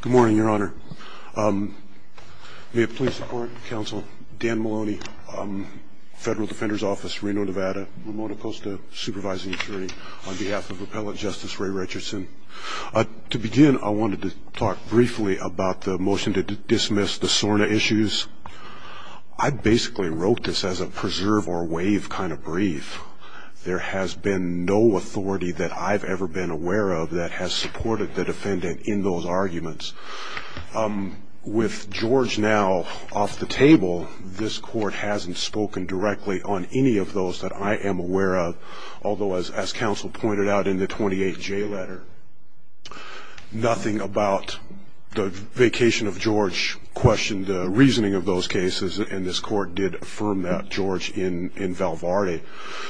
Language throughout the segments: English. Good morning, Your Honor. May it please the Court, Counsel Dan Maloney, Federal Defender's Office, Reno, Nevada, Ramona Costa, Supervising Attorney, on behalf of Appellant Justice Ray Richardson. To begin, I wanted to talk briefly about the motion to dismiss the SORNA issues. I basically wrote this as a preserve or waive kind of brief. There has been no authority that I've ever been aware of that has supported the defendant in those arguments. With George now off the table, this Court hasn't spoken directly on any of those that I am aware of, although, as counsel pointed out in the 28J letter, nothing about the vacation of George questioned the reasoning of those cases, and this Court did affirm that, George, in Val Varde.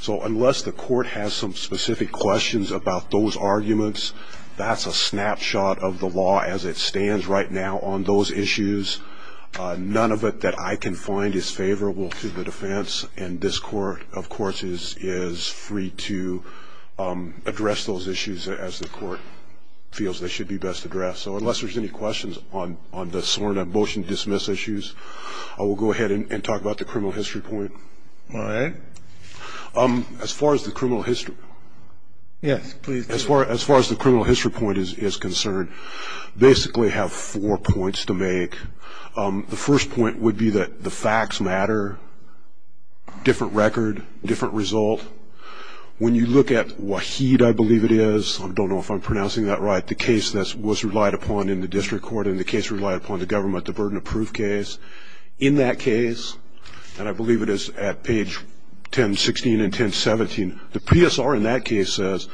So unless the Court has some specific questions about those arguments, that's a snapshot of the law as it stands right now on those issues. None of it that I can find is favorable to the defense, and this Court, of course, is free to address those issues as the Court feels they should be best addressed. So unless there's any questions on the SORNA motion to dismiss issues, I will go ahead and talk about the criminal history point. All right. As far as the criminal history point is concerned, basically have four points to make. The first point would be that the facts matter, different record, different result. When you look at Waheed, I believe it is, I don't know if I'm pronouncing that right, the case that was relied upon in the district court and the case relied upon the government, the burden of proof case. In that case, and I believe it is at page 1016 and 1017, the PSR in that case says,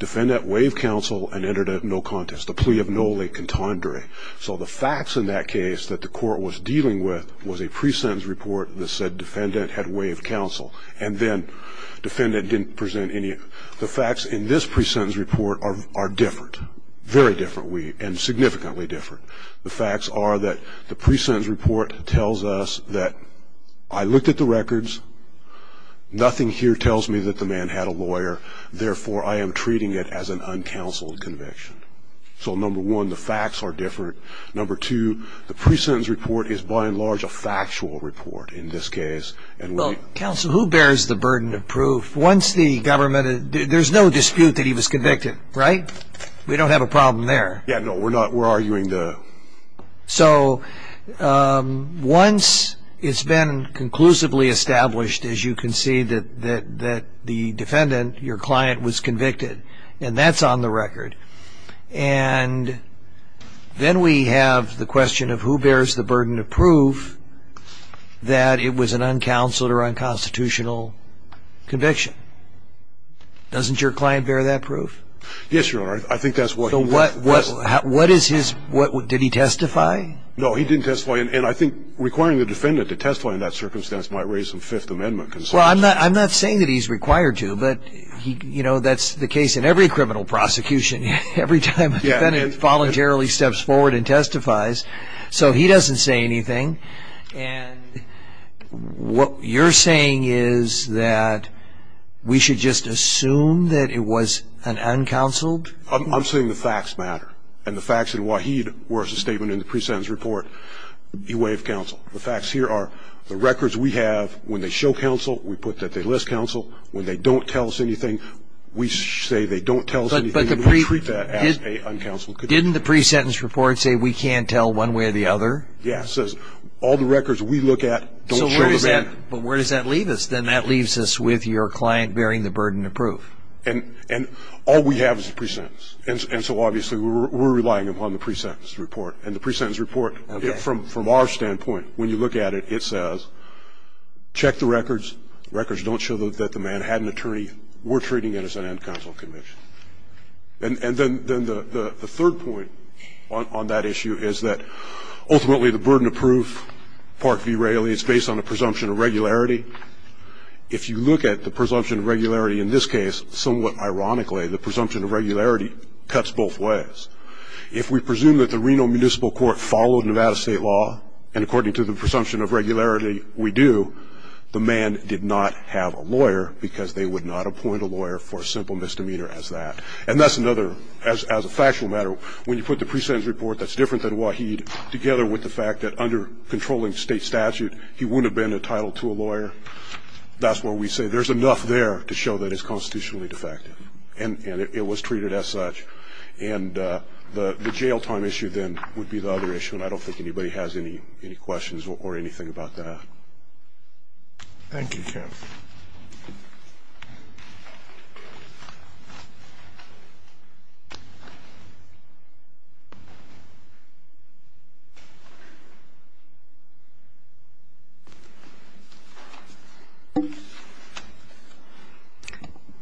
defendant waived counsel and entered a no contest, the plea of no le contendere. So the facts in that case that the Court was dealing with was a pre-sentence report that said defendant had waived counsel, and then defendant didn't present any. The facts in this pre-sentence report are different, very different, and significantly different. The facts are that the pre-sentence report tells us that I looked at the records, nothing here tells me that the man had a lawyer, therefore I am treating it as an uncounseled conviction. So number one, the facts are different. Number two, the pre-sentence report is by and large a factual report in this case. Well, counsel, who bears the burden of proof? Once the government, there's no dispute that he was convicted, right? We don't have a problem there. Yeah, no, we're arguing the. So once it's been conclusively established, as you can see, that the defendant, your client, was convicted, and that's on the record, and then we have the question of who bears the burden of proof that it was an uncounseled or unconstitutional conviction. Doesn't your client bear that proof? Yes, Your Honor, I think that's what he bears. What is his, did he testify? No, he didn't testify, and I think requiring the defendant to testify in that circumstance might raise some Fifth Amendment concerns. Well, I'm not saying that he's required to, but, you know, that's the case in every criminal prosecution. Every time a defendant voluntarily steps forward and testifies, so he doesn't say anything, and what you're saying is that we should just assume that it was an uncounseled? I'm saying the facts matter, and the facts in Waheed were a statement in the pre-sentence report. He waived counsel. The facts here are the records we have, when they show counsel, we put that they list counsel. When they don't tell us anything, we say they don't tell us anything, and we treat that as an uncounseled conviction. Didn't the pre-sentence report say we can't tell one way or the other? Yeah, it says all the records we look at don't show the matter. But where does that leave us? Then that leaves us with your client bearing the burden of proof. And all we have is the pre-sentence. And so, obviously, we're relying upon the pre-sentence report. And the pre-sentence report, from our standpoint, when you look at it, it says, check the records. The records don't show that the man had an attorney. We're treating it as an uncounseled conviction. And then the third point on that issue is that ultimately the burden of proof, Park v. Raley, is based on a presumption of regularity. If you look at the presumption of regularity in this case, somewhat ironically, the presumption of regularity cuts both ways. If we presume that the Reno Municipal Court followed Nevada state law, and according to the presumption of regularity we do, the man did not have a lawyer because they would not appoint a lawyer for a simple misdemeanor as that. And that's another, as a factual matter, when you put the pre-sentence report that's different than Waheed, together with the fact that under controlling state statute he wouldn't have been entitled to a lawyer, that's where we say there's enough there to show that it's constitutionally defective. And it was treated as such. And the jail time issue then would be the other issue, and I don't think anybody has any questions or anything about that. Thank you, counsel.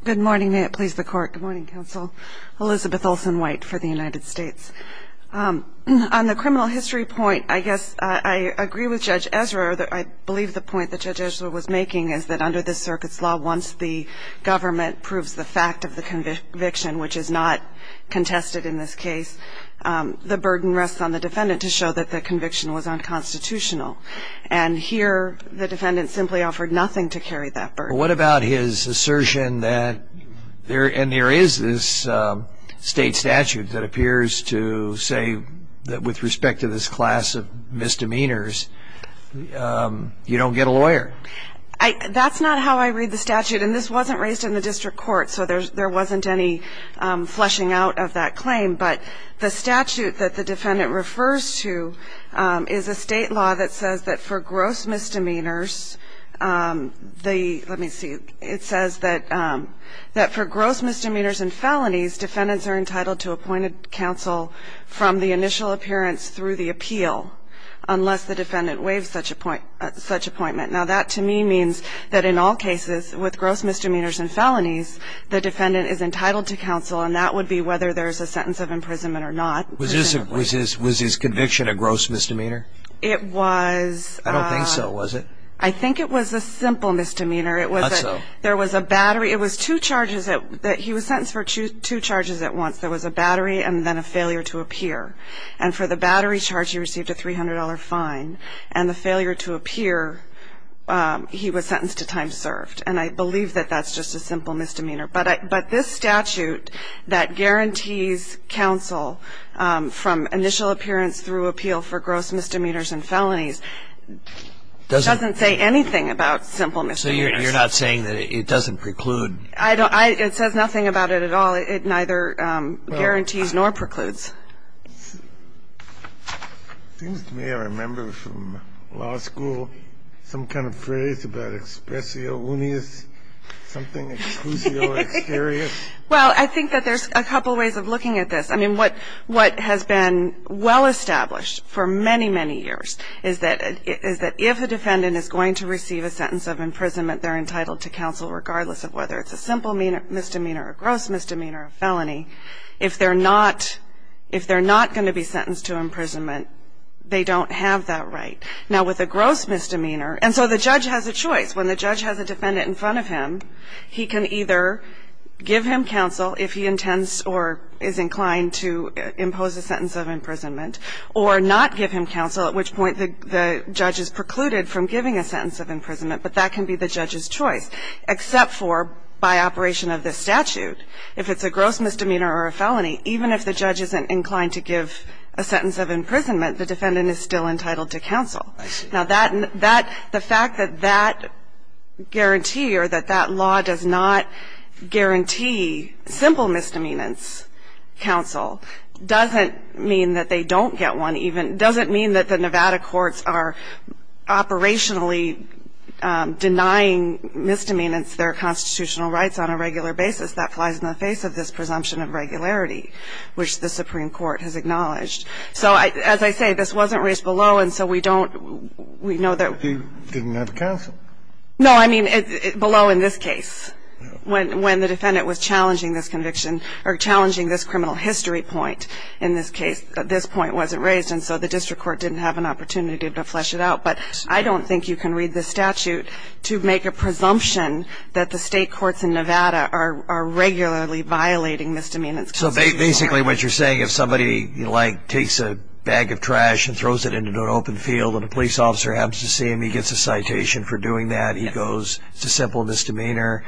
Good morning. May it please the Court. Good morning, counsel. Elizabeth Olsen-White for the United States. On the criminal history point, I guess I agree with Judge Ezra. I believe the point that Judge Ezra was making is that under this circuit's law, once the government proves the fact of the conviction, which is not contested in this case, the burden rests on the defendant to show that the conviction was unconstitutional. And here the defendant simply offered nothing to carry that burden. What about his assertion that there is this state statute that appears to say that with respect to this class of misdemeanors, you don't get a lawyer? That's not how I read the statute, and this wasn't raised in the district court, so there wasn't any fleshing out of that claim. But the statute that the defendant refers to is a state law that says that for gross misdemeanors, let me see, it says that for gross misdemeanors and felonies, defendants are entitled to appointed counsel from the initial appearance through the appeal, unless the defendant waives such appointment. Now, that to me means that in all cases with gross misdemeanors and felonies, the defendant is entitled to counsel, and that would be whether there's a sentence of imprisonment or not. Was his conviction a gross misdemeanor? It was. I don't think so, was it? I think it was a simple misdemeanor. Not so. There was a battery. It was two charges. He was sentenced for two charges at once. There was a battery and then a failure to appear. And for the battery charge, he received a $300 fine. And the failure to appear, he was sentenced to time served. And I believe that that's just a simple misdemeanor. But this statute that guarantees counsel from initial appearance through appeal for gross misdemeanors and felonies doesn't say anything about simple misdemeanors. So you're not saying that it doesn't preclude? I don't. It says nothing about it at all. It neither guarantees nor precludes. It seems to me I remember from law school some kind of phrase about expressio unius, something exclusio exterius. Well, I think that there's a couple ways of looking at this. I mean, what has been well established for many, many years is that if a defendant is going to receive a sentence of imprisonment, they're entitled to counsel regardless of whether it's a simple misdemeanor or a gross misdemeanor or a felony. If they're not going to be sentenced to imprisonment, they don't have that right. Now, with a gross misdemeanor, and so the judge has a choice. When the judge has a defendant in front of him, he can either give him counsel if he intends or is inclined to impose a sentence of imprisonment or not give him counsel, at which point the judge is precluded from giving a sentence of imprisonment. But that can be the judge's choice, except for by operation of this statute. If it's a gross misdemeanor or a felony, even if the judge isn't inclined to give a sentence of imprisonment, the defendant is still entitled to counsel. I see. Now, the fact that that guarantee or that that law does not guarantee simple misdemeanors counsel doesn't mean that they don't get one even, doesn't mean that the Nevada courts are operationally denying misdemeanors their constitutional rights on a regular basis. That flies in the face of this presumption of regularity, which the Supreme Court has acknowledged. So, as I say, this wasn't raised below, and so we don't, we know that. You didn't have counsel. No, I mean, below in this case, when the defendant was challenging this conviction or challenging this criminal history point in this case, this point wasn't raised, and so the district court didn't have an opportunity to flesh it out. But I don't think you can read this statute to make a presumption that the State courts in Nevada are regularly violating misdemeanors constitutional rights. So basically what you're saying, if somebody, like, takes a bag of trash and throws it into an open field and a police officer happens to see him, he gets a citation for doing that, he goes to simple misdemeanor,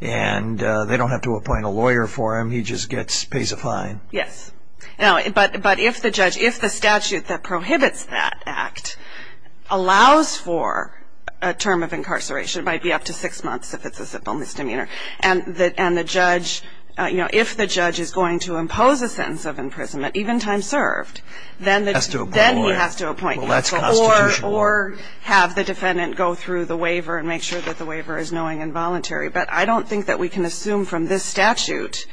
and they don't have to appoint a lawyer for him, he just gets, pays a fine. Yes. But if the judge, if the statute that prohibits that act allows for a term of incarceration, it might be up to six months if it's a simple misdemeanor, and the judge, you know, if the judge is going to impose a sentence of imprisonment, even time served, then he has to appoint counsel or have the defendant go through the waiver and make sure that the waiver is knowing and voluntary. But I don't think that we can assume from this statute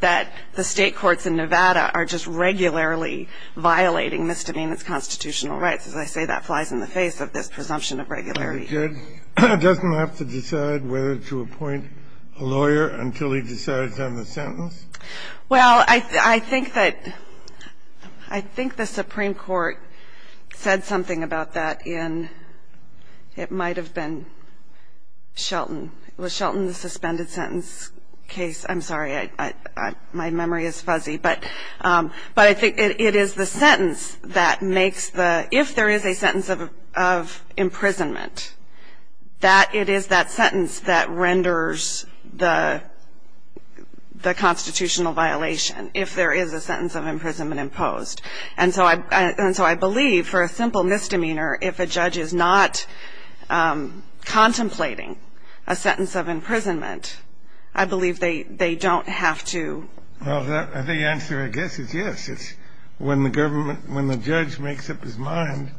that the State courts in Nevada are just regularly violating misdemeanors constitutional rights. As I say, that flies in the face of this presumption of regularity. The judge doesn't have to decide whether to appoint a lawyer until he decides on the sentence? Well, I think that, I think the Supreme Court said something about that in, it might have been Shelton. Was Shelton the suspended sentence case? I'm sorry, my memory is fuzzy. But I think it is the sentence that makes the, if there is a sentence of imprisonment, that it is that sentence that renders the constitutional violation, if there is a sentence of imprisonment imposed. And so I believe for a simple misdemeanor, if a judge is not contemplating a sentence of imprisonment, I believe they don't have to. Well, the answer, I guess, is yes. It's when the government, when the judge makes up his mind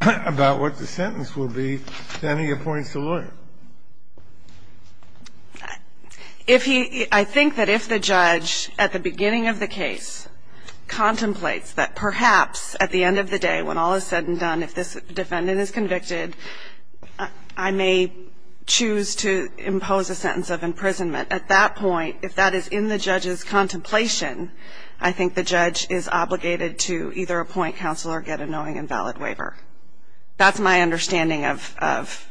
about what the sentence will be, then he appoints the lawyer. If he, I think that if the judge at the beginning of the case contemplates that perhaps at the end of the day when all is said and done, if this defendant is convicted, I may choose to impose a sentence of imprisonment. But at that point, if that is in the judge's contemplation, I think the judge is obligated to either appoint counsel or get a knowing and valid waiver. That's my understanding of...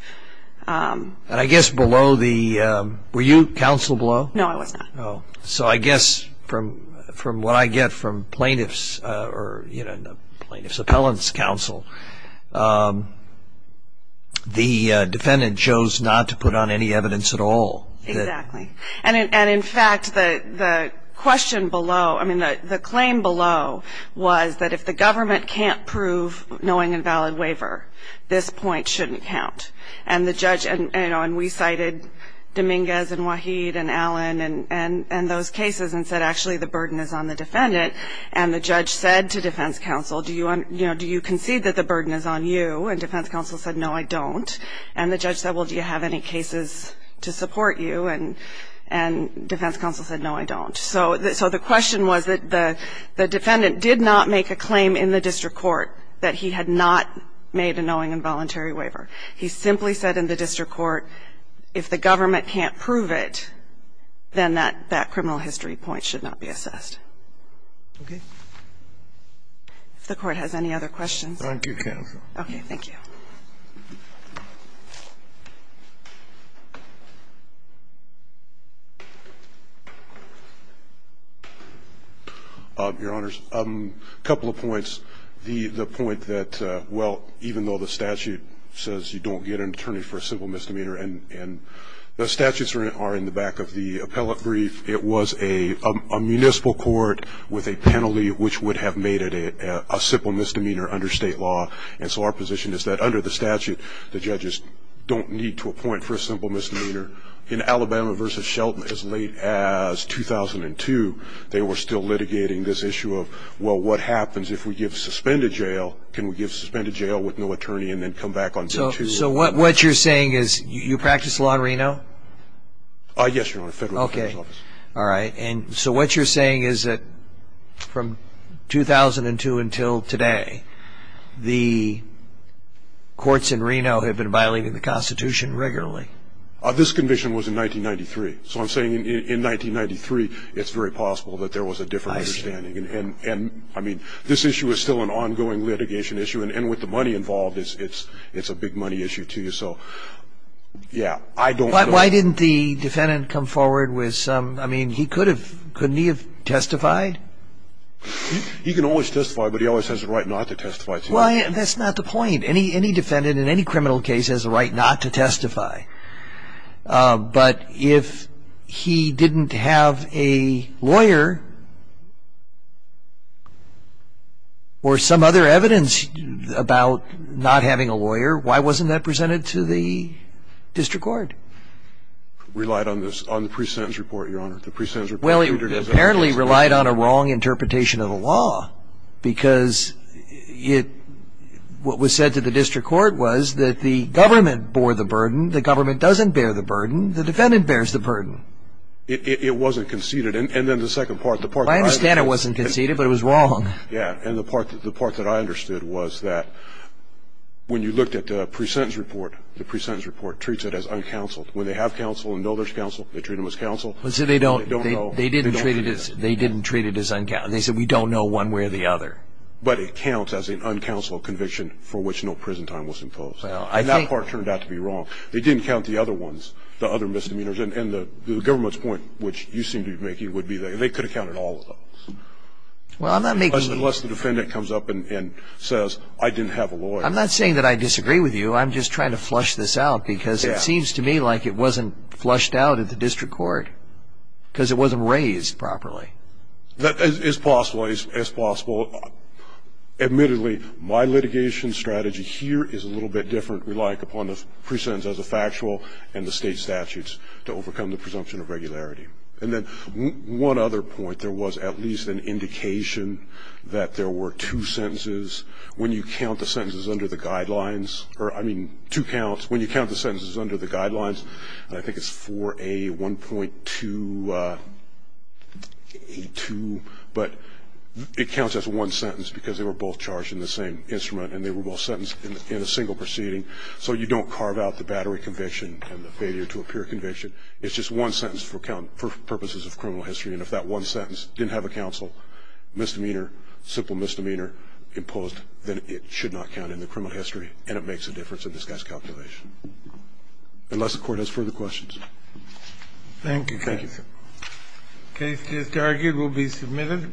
And I guess below the, were you counsel below? No, I was not. Oh. So I guess from what I get from plaintiff's, or plaintiff's appellant's counsel, the defendant chose not to put on any evidence at all. Exactly. And, in fact, the question below, I mean the claim below, was that if the government can't prove knowing and valid waiver, this point shouldn't count. And the judge, and we cited Dominguez and Waheed and Allen and those cases and said actually the burden is on the defendant. And the judge said to defense counsel, do you concede that the burden is on you? And defense counsel said, no, I don't. And the judge said, well, do you have any cases to support you? And defense counsel said, no, I don't. So the question was that the defendant did not make a claim in the district court that he had not made a knowing and voluntary waiver. He simply said in the district court, if the government can't prove it, then that criminal history point should not be assessed. Okay. If the Court has any other questions. Thank you, counsel. Thank you. Thank you. Your Honors, a couple of points. The point that, well, even though the statute says you don't get an attorney for a simple misdemeanor, and the statutes are in the back of the appellate brief, it was a municipal court with a penalty which would have made it a simple misdemeanor under state law. And so our position is that under the statute, the judges don't need to appoint for a simple misdemeanor. In Alabama versus Shelton, as late as 2002, they were still litigating this issue of, well, what happens if we give suspended jail? Can we give suspended jail with no attorney and then come back on day two? So what you're saying is you practice law in Reno? Yes, Your Honor, federal office. Okay. All right. And so what you're saying is that from 2002 until today, the courts in Reno have been violating the Constitution regularly? This condition was in 1993. So I'm saying in 1993 it's very possible that there was a different understanding. I see. And, I mean, this issue is still an ongoing litigation issue, and with the money involved it's a big money issue, too. So, yeah, I don't know. Why didn't the defendant come forward with some, I mean, couldn't he have testified? He can always testify, but he always has the right not to testify. Well, that's not the point. Any defendant in any criminal case has the right not to testify. But if he didn't have a lawyer or some other evidence about not having a lawyer, why wasn't that presented to the district court? The district court relied on the pre-sentence report, Your Honor. Well, it apparently relied on a wrong interpretation of the law, because what was said to the district court was that the government bore the burden, the government doesn't bear the burden, the defendant bears the burden. It wasn't conceded. And then the second part. I understand it wasn't conceded, but it was wrong. Yeah, and the part that I understood was that when you looked at the pre-sentence report, the pre-sentence report treats it as uncounseled. When they have counsel and know there's counsel, they treat them as counsel. They didn't treat it as uncounseled. They said we don't know one way or the other. But it counts as an uncounseled conviction for which no prison time was imposed. And that part turned out to be wrong. They didn't count the other ones, the other misdemeanors, and the government's point, which you seem to be making, would be that they could have counted all of those. Unless the defendant comes up and says I didn't have a lawyer. I'm not saying that I disagree with you. I'm just trying to flush this out because it seems to me like it wasn't flushed out at the district court because it wasn't raised properly. It's possible. It's possible. Admittedly, my litigation strategy here is a little bit different. We rely upon the pre-sentence as a factual and the state statutes to overcome the presumption of regularity. And then one other point, there was at least an indication that there were two sentences. When you count the sentences under the guidelines, or I mean two counts, when you count the sentences under the guidelines, and I think it's 4A1.2A2, but it counts as one sentence because they were both charged in the same instrument and they were both sentenced in a single proceeding. So you don't carve out the battery conviction and the failure to appear conviction. It's just one sentence for purposes of criminal history. And if that one sentence didn't have a counsel misdemeanor, simple misdemeanor imposed, then it should not count in the criminal history and it makes a difference in this guy's calculation. Unless the court has further questions. Thank you. Thank you, sir. The case just argued will be submitted.